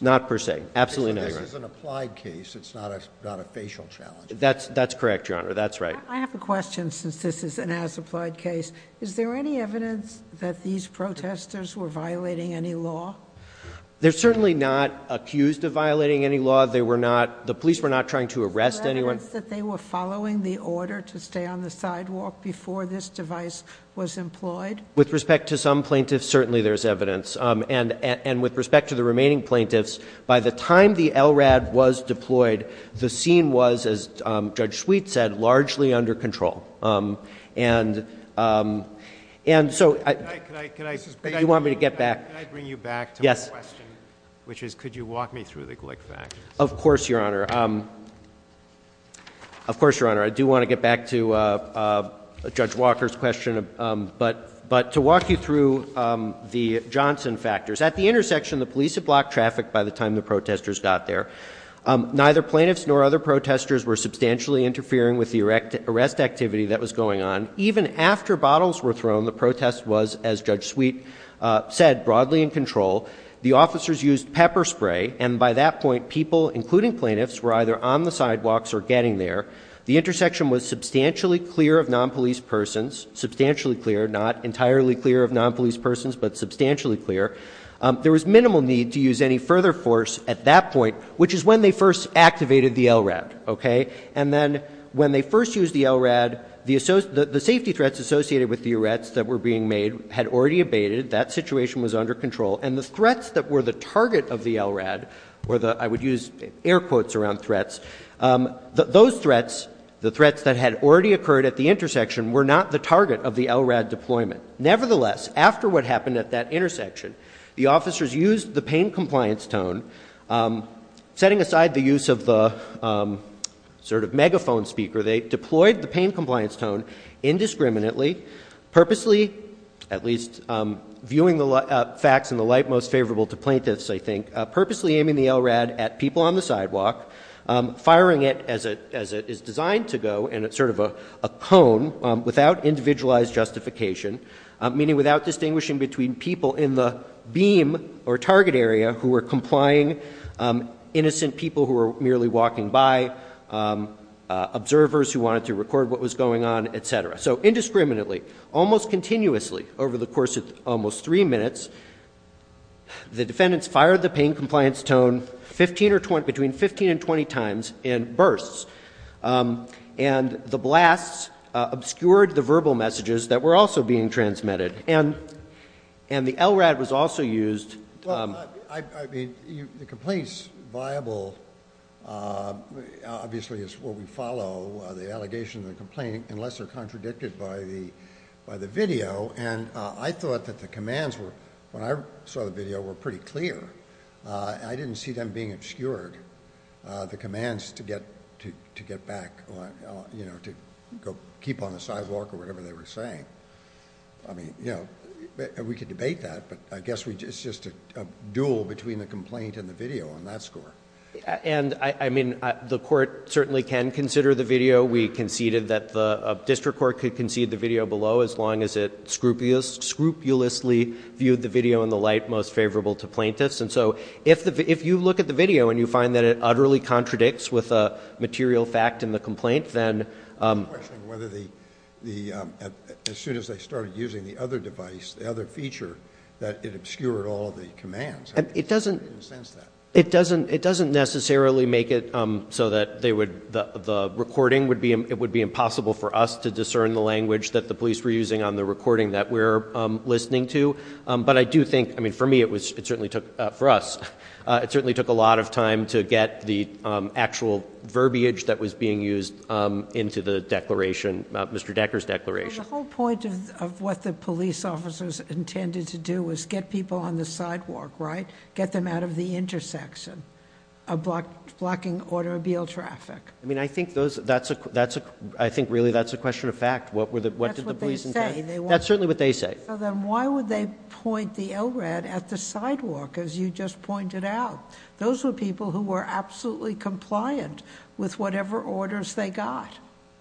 Not per se. Absolutely not. This is an applied case. It's not a facial challenge. That's correct, Your Honor. That's right. I have a question since this is an as-applied case. Is there any evidence that these protesters were violating any law? They're certainly not accused of violating any law. The police were not trying to arrest anyone. Is there evidence that they were following the order to stay on the sidewalk before this device was employed? With respect to some plaintiffs, certainly there's evidence. And with respect to the remaining plaintiffs, by the time the LRAD was deployed, the scene was, as Judge Sweet said, largely under control. Can I bring you back to my question, which is could you walk me through the Glick facts? Of course, Your Honor. Of course, Your Honor. I do want to get back to Judge Walker's question. But to walk you through the Johnson factors. At the intersection, the police had blocked traffic by the time the protesters got there. Neither plaintiffs nor other protesters were substantially interfering with the arrest activity that was going on. Even after bottles were thrown, the protest was, as Judge Sweet said, broadly in control. The officers used pepper spray. And by that point, people, including plaintiffs, were either on the sidewalks or getting there. The intersection was substantially clear of non-police persons. Substantially clear, not entirely clear of non-police persons, but substantially clear. There was minimal need to use any further force at that point, which is when they first activated the LRAD. And then when they first used the LRAD, the safety threats associated with the arrests that were being made had already abated. That situation was under control. And the threats that were the target of the LRAD were the, I would use air quotes around threats, those threats, the threats that had already occurred at the intersection were not the target of the LRAD deployment. Nevertheless, after what happened at that intersection, the officers used the pain compliance tone, setting aside the use of the sort of megaphone speaker, they deployed the pain compliance tone indiscriminately, purposely, at least viewing the facts in the light most favorable to plaintiffs, I think, purposely aiming the LRAD at people on the sidewalk, firing it as it is designed to go, in sort of a cone, without individualized justification, meaning without distinguishing between people in the beam or target area who were complying, innocent people who were merely walking by, observers who wanted to record what was going on, etc. So indiscriminately, almost continuously, over the course of almost three minutes, the defendants fired the pain compliance tone between 15 and 20 times in bursts. And the blasts obscured the verbal messages that were also being transmitted. And the LRAD was also used... Well, I mean, the complaint's viable, obviously, is what we follow, the allegation of the complaint, unless they're contradicted by the video. And I thought that the commands were, when I saw the video, were pretty clear. I didn't see them being obscured, the commands to get back, you know, to go keep on the sidewalk or whatever they were saying. I mean, you know, we could debate that, but I guess it's just a duel between the complaint and the video on that score. And, I mean, the court certainly can consider the video. We conceded that the district court could concede the video below, as long as it scrupulously viewed the video in the light most favorable to plaintiffs. And so if you look at the video and you find that it utterly contradicts with the material fact in the complaint, then... I'm questioning whether the, as soon as they started using the other device, the other feature, that it obscured all of the commands. It doesn't... I didn't sense that. It doesn't necessarily make it so that they would, the recording would be, it would be impossible for us to discern the language that the police were using on the recording that we're listening to. But I do think, I mean, for me it was, it certainly took, for us, it certainly took a lot of time to get the actual verbiage that was being used into the declaration, Mr. Decker's declaration. The whole point of what the police officers intended to do was get people on the sidewalk, right? Get them out of the intersection, blocking automobile traffic. I mean, I think those, that's a, I think really that's a question of fact. What did the police intend? That's what they say. That's certainly what they say. So then why would they point the LRAD at the sidewalk, as you just pointed out? Those were people who were absolutely compliant with whatever orders they got.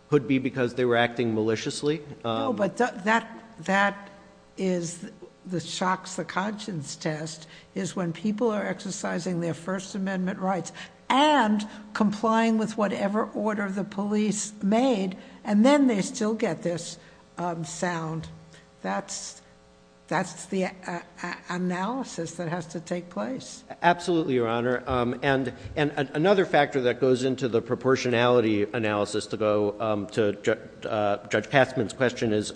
Could be because they were acting maliciously. No, but that, that is the shocks the conscience test is when people are exercising their First Amendment rights and complying with whatever order the police made and then they still get this sound. That's, that's the analysis that has to take place. Absolutely, Your Honor. And another factor that goes into the proportionality analysis to go to Judge Katzmann's question is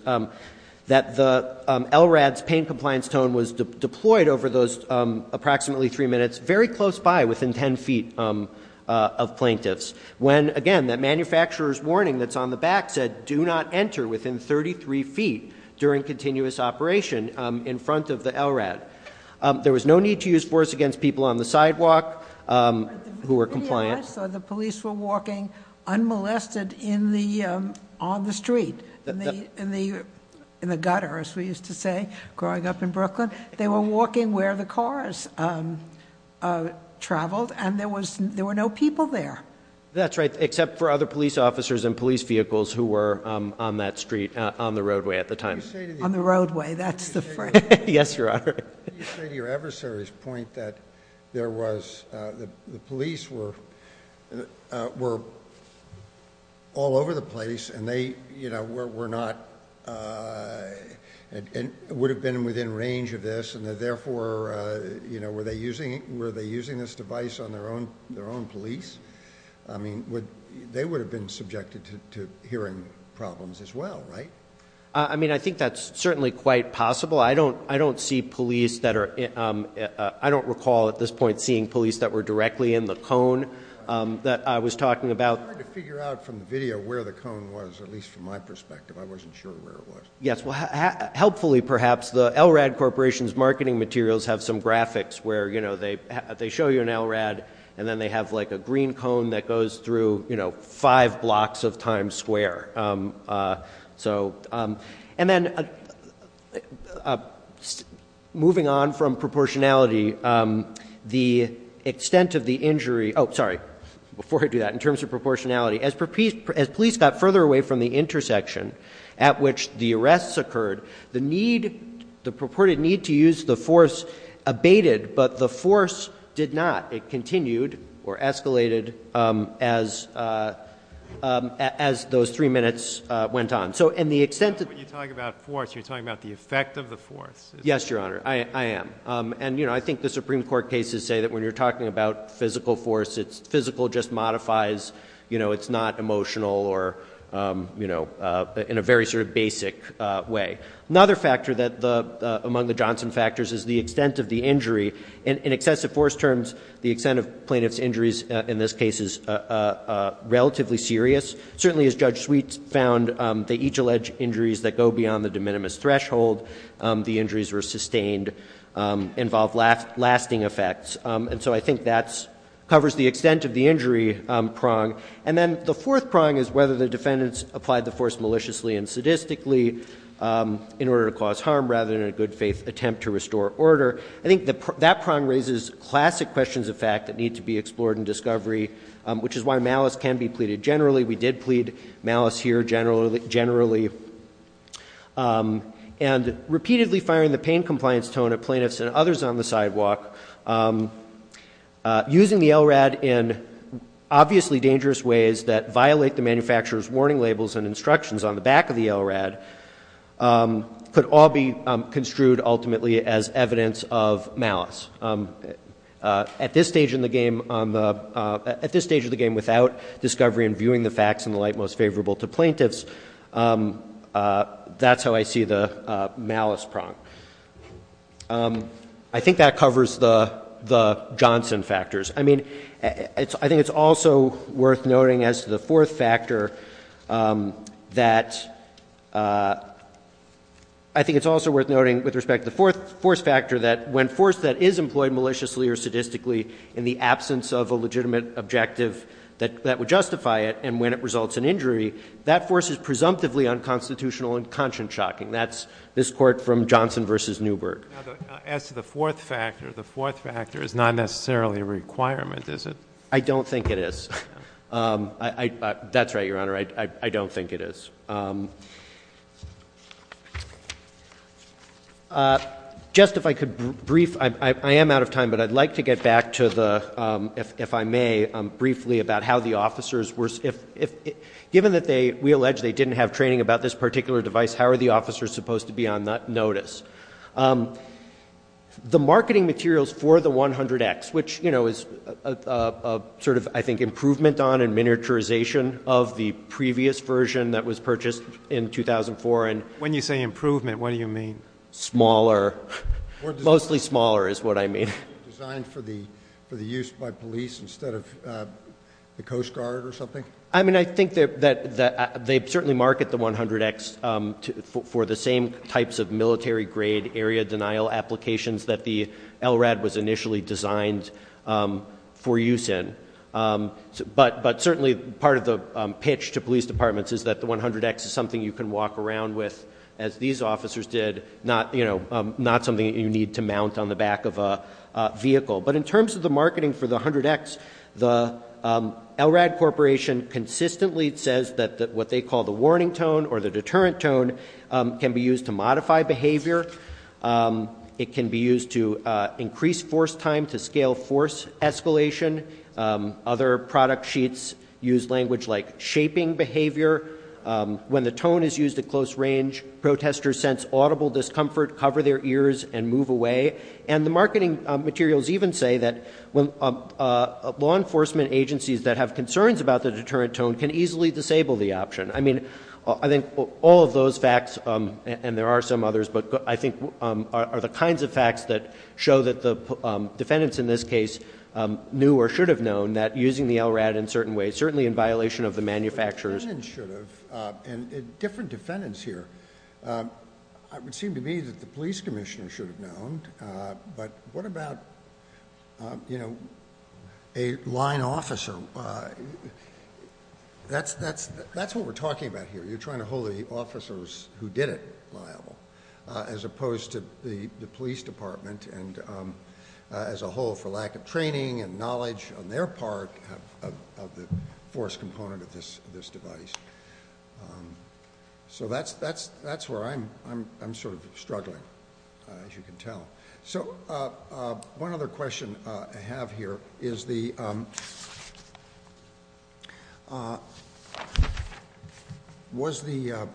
that the LRAD's pain compliance tone was deployed over those approximately three minutes, very close by, within 10 feet of plaintiffs. When, again, that manufacturer's warning that's on the back said, do not enter within 33 feet during continuous operation in front of the LRAD. There was no need to use force against people on the sidewalk who were compliant. I saw the police were walking unmolested in the, on the street, in the gutter, as we used to say, growing up in Brooklyn. They were walking where the cars traveled and there was, there were no people there. That's right, except for other police officers and police vehicles who were on that street, on the roadway at the time. On the roadway, that's the phrase. Yes, Your Honor. You say to your adversary's point that there was, the police were, were all over the place and they, you know, were not, would have been within range of this and therefore, you know, were they using, were they using this device on their own, their own police? I mean, would, they would have been subjected to hearing problems as well, right? I mean, I think that's certainly quite possible. I don't, I don't see police that are, I don't recall at this point seeing police that were directly in the cone that I was talking about. It's hard to figure out from the video where the cone was, at least from my perspective. I wasn't sure where it was. Yes, well, helpfully perhaps, the LRAD Corporation's marketing materials have some graphics where, you know, they show you an LRAD and then they have like a green cone that goes through, you know, five blocks of Times Square. So, and then moving on from proportionality, the extent of the injury, oh, sorry, before I do that, in terms of proportionality, as police got further away from the intersection at which the arrests occurred, the need, the purported need to use the force abated, but the force did not. It continued or escalated as, as those three minutes went on. So, and the extent of- When you talk about force, you're talking about the effect of the force. Yes, Your Honor, I am. And, you know, I think the Supreme Court cases say that when you're talking about physical force, it's physical just modifies, you know, it's not emotional or, you know, in a very sort of basic way. Another factor that the, among the Johnson factors is the extent of the injury. In excessive force terms, the extent of plaintiff's injuries in this case is relatively serious. Certainly, as Judge Sweet found, they each allege injuries that go beyond the de minimis threshold. The injuries were sustained, involved lasting effects. And so I think that covers the extent of the injury prong. And then the fourth prong is whether the defendants applied the force maliciously and sadistically in order to cause harm, rather than in a good faith attempt to restore order. I think that prong raises classic questions of fact that need to be explored in discovery, which is why malice can be pleaded generally. We did plead malice here generally. And repeatedly firing the pain compliance tone at plaintiffs and others on the sidewalk, using the LRAD in obviously dangerous ways that violate the manufacturer's warning labels and instructions on the back of the LRAD, could all be construed ultimately as evidence of malice. At this stage in the game, without discovery and viewing the facts in the light most favorable to plaintiffs, that's how I see the malice prong. I think that covers the Johnson factors. I mean, I think it's also worth noting as to the fourth factor that, I think it's also worth noting with respect to the fourth factor that when force that is employed maliciously or sadistically in the absence of a legitimate objective that would justify it, and when it results in injury, that force is presumptively unconstitutional and conscience shocking. That's this court from Johnson versus Newberg. As to the fourth factor, the fourth factor is not necessarily a requirement, is it? I don't think it is. That's right, Your Honor, I don't think it is. Just if I could brief, I am out of time, but I'd like to get back to the, if I may, briefly about how the officers were, given that we allege they didn't have training about this particular device, how are the officers supposed to be on notice? The marketing materials for the 100X, which is sort of, I think, improvement on and miniaturization of the previous version that was purchased in 2004. When you say improvement, what do you mean? Smaller, mostly smaller is what I mean. Designed for the use by police instead of the Coast Guard or something? I mean, I think that they certainly market the 100X for the same types of military grade area denial applications that the LRAD was initially designed for use in, but certainly part of the pitch to police departments is that the 100X is something you can walk around with, as these officers did, not something that you need to mount on the back of a vehicle. But in terms of the marketing for the 100X, the LRAD Corporation consistently says that what they call the warning tone or the deterrent tone can be used to modify behavior. It can be used to increase force time, to scale force escalation. Other product sheets use language like shaping behavior. When the tone is used at close range, protesters sense audible discomfort, cover their ears, and move away. And the marketing materials even say that law enforcement agencies that have concerns about the deterrent tone can easily disable the option. I mean, I think all of those facts, and there are some others, but I think are the kinds of facts that show that the defendants in this case knew or should have known that using the LRAD in certain ways, certainly in violation of the manufacturer's... And different defendants here, it would seem to me that the police commissioner should have known, but what about a line officer? That's what we're talking about here. You're trying to hold the officers who did it liable, as opposed to the police department, and as a whole, for lack of training and knowledge on their part, of the force component of this device. So that's where I'm struggling, as you can tell. So one other question I have here is the... Was the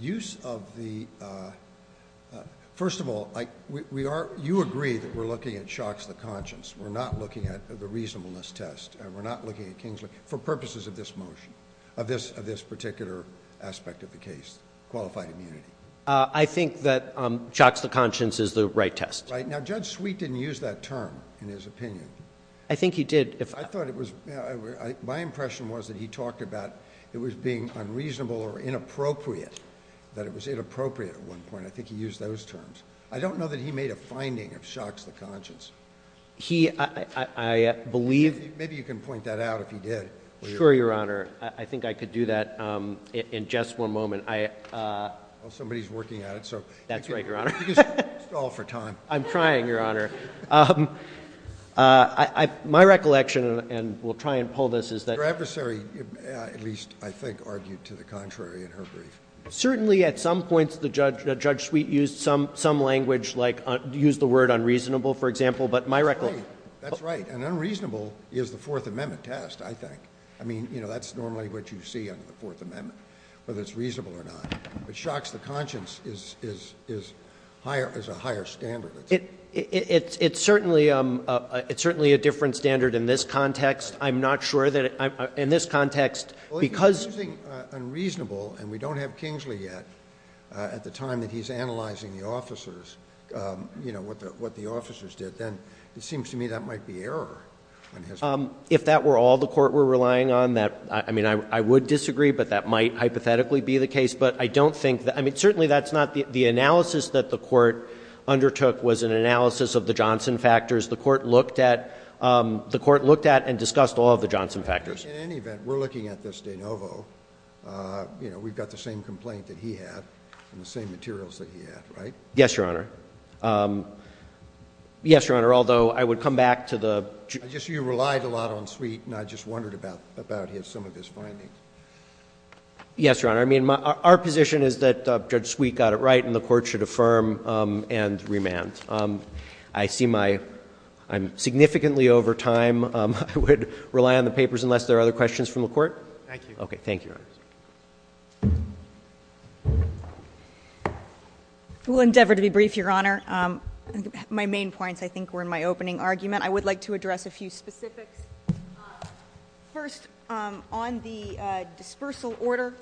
use of the... First of all, you agree that we're looking at shocks of the conscience. We're not looking at the reasonableness test, and we're not looking at Kingsley, for purposes of this motion, of this particular aspect of the case, qualified immunity. I think that shocks of the conscience is the right test. Now, Judge Sweet didn't use that term, in his opinion. My impression was that he talked about it was being unreasonable or inappropriate, that it was inappropriate at one point. I think he used those terms. I don't know that he made a finding of shocks of the conscience. Maybe you can point that out, if he did. Sure, Your Honor. I think I could do that in just one moment. Somebody's working at it. That's right, Your Honor. I'm trying, Your Honor. My recollection, and we'll try and pull this, is that... Your adversary, at least I think, argued to the contrary in her brief. Certainly, at some points, Judge Sweet used some language, like used the word unreasonable, for example. That's right. And unreasonable is the Fourth Amendment test, I think. I mean, that's normally what you see under the Fourth Amendment, whether it's reasonable or not. But shocks of the conscience is a higher standard. It's certainly a different standard in this context. In this context, because... unreasonable, and we don't have Kingsley yet, at the time that he's analyzing the officers, you know, what the officers did, then it seems to me that might be error. If that were all the Court were relying on, I mean, I would disagree, but that might hypothetically be the case. But I don't think that... I mean, certainly that's not... The analysis that the Court undertook was an analysis of the Johnson factors. The Court looked at and discussed all of the Johnson factors. In any event, we're looking at this de novo. You know, we've got the same complaint that he had, and the same materials that he had, right? Yes, Your Honor. Yes, Your Honor, although I would come back to the... I guess you relied a lot on Sweet, and I just wondered about some of his findings. Yes, Your Honor. I mean, our position is that Judge Sweet got it right, and the Court should affirm and remand. I'm significantly over time. I would rely on the papers unless there are other questions from the Court. Thank you. Okay, thank you, Your Honor. We'll endeavor to be brief, Your Honor. My main points, I think, were in my opening argument. I would like to address a few specifics. First, on the dispersal order,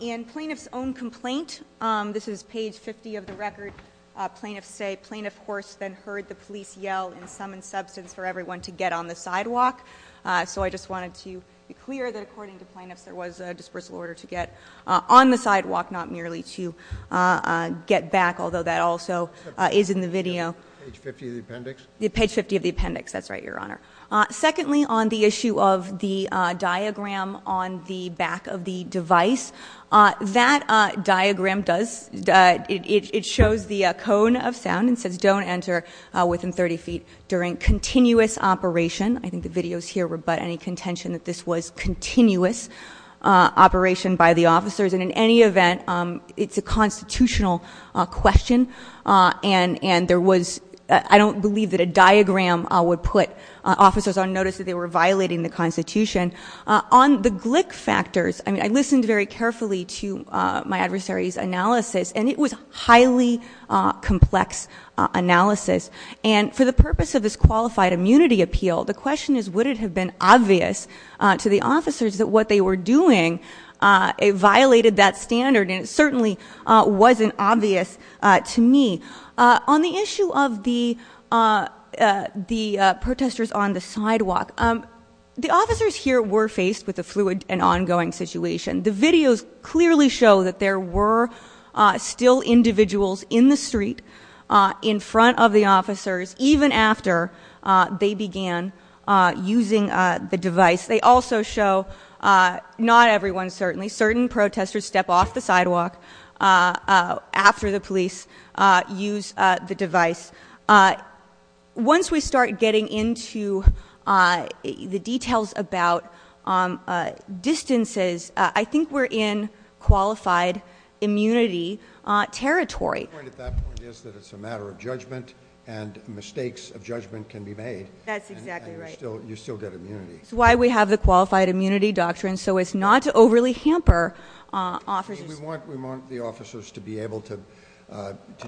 in Plaintiff's own complaint, this is page 50 of the record, Plaintiffs say, Plaintiff Horst then heard the police yell and summon substance for everyone to get on the sidewalk. So I just wanted to be clear that according to Plaintiffs, there was a dispersal order to get on the sidewalk, not merely to get back, although that also is in the video. Page 50 of the appendix? Page 50 of the appendix, that's right, Your Honor. Secondly, on the issue of the diagram on the back of the device, that diagram does, it shows the cone of sound and says, don't enter within 30 feet during continuous operation. I think the videos here rebut any contention that this was continuous operation by the officers, and in any event, it's a constitutional question, and there was, I don't believe that a diagram would put officers on notice that they were violating the Constitution. On the glick factors, I listened very carefully to my adversary's analysis, and it was highly complex analysis. And for the purpose of this qualified immunity appeal, the question is would it have been obvious to the officers that what they were doing violated that standard, and it certainly wasn't obvious to me. On the issue of the protesters on the sidewalk, the officers here were faced with a fluid and ongoing situation. The videos clearly show that there were still individuals in the street in front of the officers, even after they began using the device. They also show, not everyone certainly, certain protesters step off the sidewalk after the police use the device. Once we start getting into the details about distances, I think we're in qualified immunity territory. It's a matter of judgment, and mistakes of judgment can be made. That's why we have the qualified immunity doctrine, so it's not to overly hamper officers. We want the officers to be able to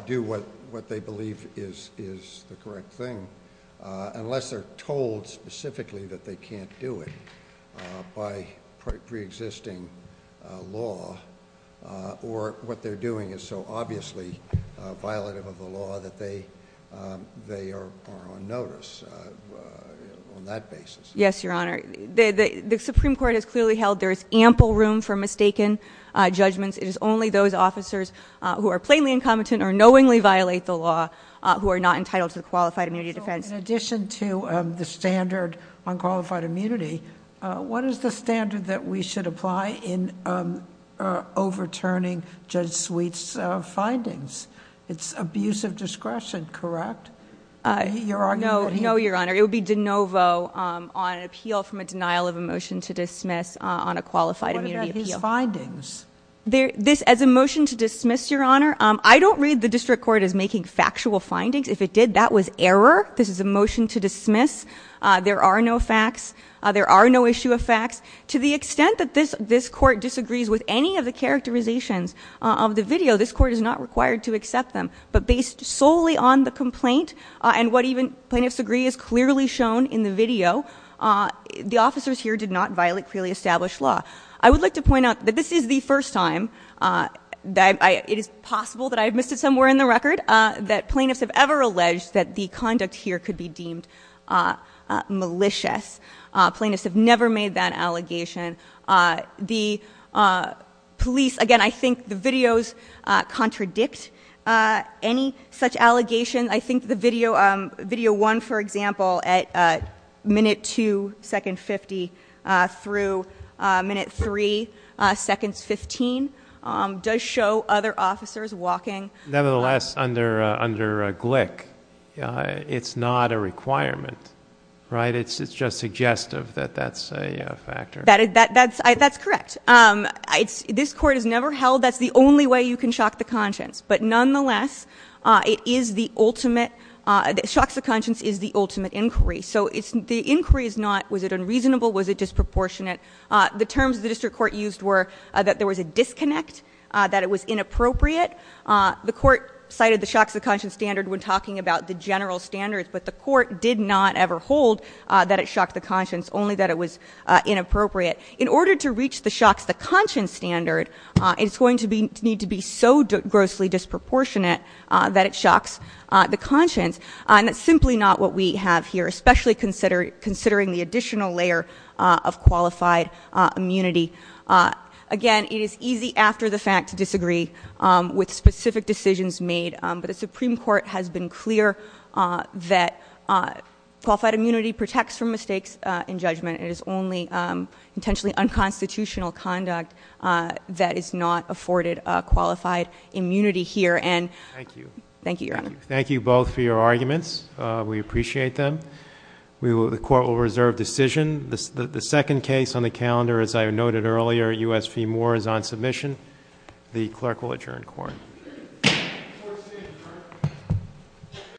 do what they believe is the correct thing, unless they're told specifically that they can't do it by pre-existing law, or what they're doing is so obviously violative of the law that they are on notice on that basis. Yes, Your Honor. The Supreme Court has clearly held there is ample room for mistaken judgments. It is only those officers who are plainly incompetent or knowingly violate the law who are not entitled to the qualified immunity defense. In addition to the standard on qualified immunity, what is the standard that we should apply in overturning Judge Sweet's findings? It's abuse of discretion, correct? No, Your Honor. It would be de novo on an appeal from a denial of a motion to dismiss on a qualified immunity appeal. What about his findings? As a motion to dismiss, Your Honor, I don't read the District Court as making factual findings. If it did, that was error. This is a motion to dismiss. There are no facts. There are no issue of facts. To the extent that this Court disagrees with any of the characterizations of the video, this Court is not required to accept them. But based solely on the complaint, and what even plaintiffs agree is clearly shown in the video, the officers here did not violate clearly established law. I would like to point out that this is the first time that it is possible that I have missed it somewhere in the record that plaintiffs have ever alleged that the conduct here could be deemed malicious. Plaintiffs have never made that allegation. The police, again, I think the videos contradict any such allegation. I think the video 1, for example, at minute 2, second 50, through minute 3, seconds 15, does show other officers walking. Nevertheless, under Glick, it's not a requirement, right? It's just suggestive that that's a factor. That's correct. This Court has never held that's the only way you can shock the conscience. But nonetheless, it is the ultimate — shocks the conscience is the ultimate inquiry. So the inquiry is not was it unreasonable, was it disproportionate. The terms the district court used were that there was a disconnect, that it was inappropriate. The Court cited the shocks of conscience standard when talking about the general standards, but the Court did not ever hold that it shocked the conscience, only that it was inappropriate. In order to reach the shocks the conscience standard, it's going to need to be so grossly disproportionate that it shocks the conscience. And that's simply not what we have here, especially considering the additional layer of qualified immunity. Again, it is easy after the fact to disagree with specific decisions made, but the Supreme Court has been clear that qualified immunity protects from mistakes in judgment. It is only intentionally unconstitutional conduct that is not afforded qualified immunity here. Thank you, Your Honor. Thank you both for your arguments. We appreciate them. The Court will reserve decision. The second case on the calendar, as I noted earlier, U.S. v. Moore, is on submission. The Clerk will adjourn court.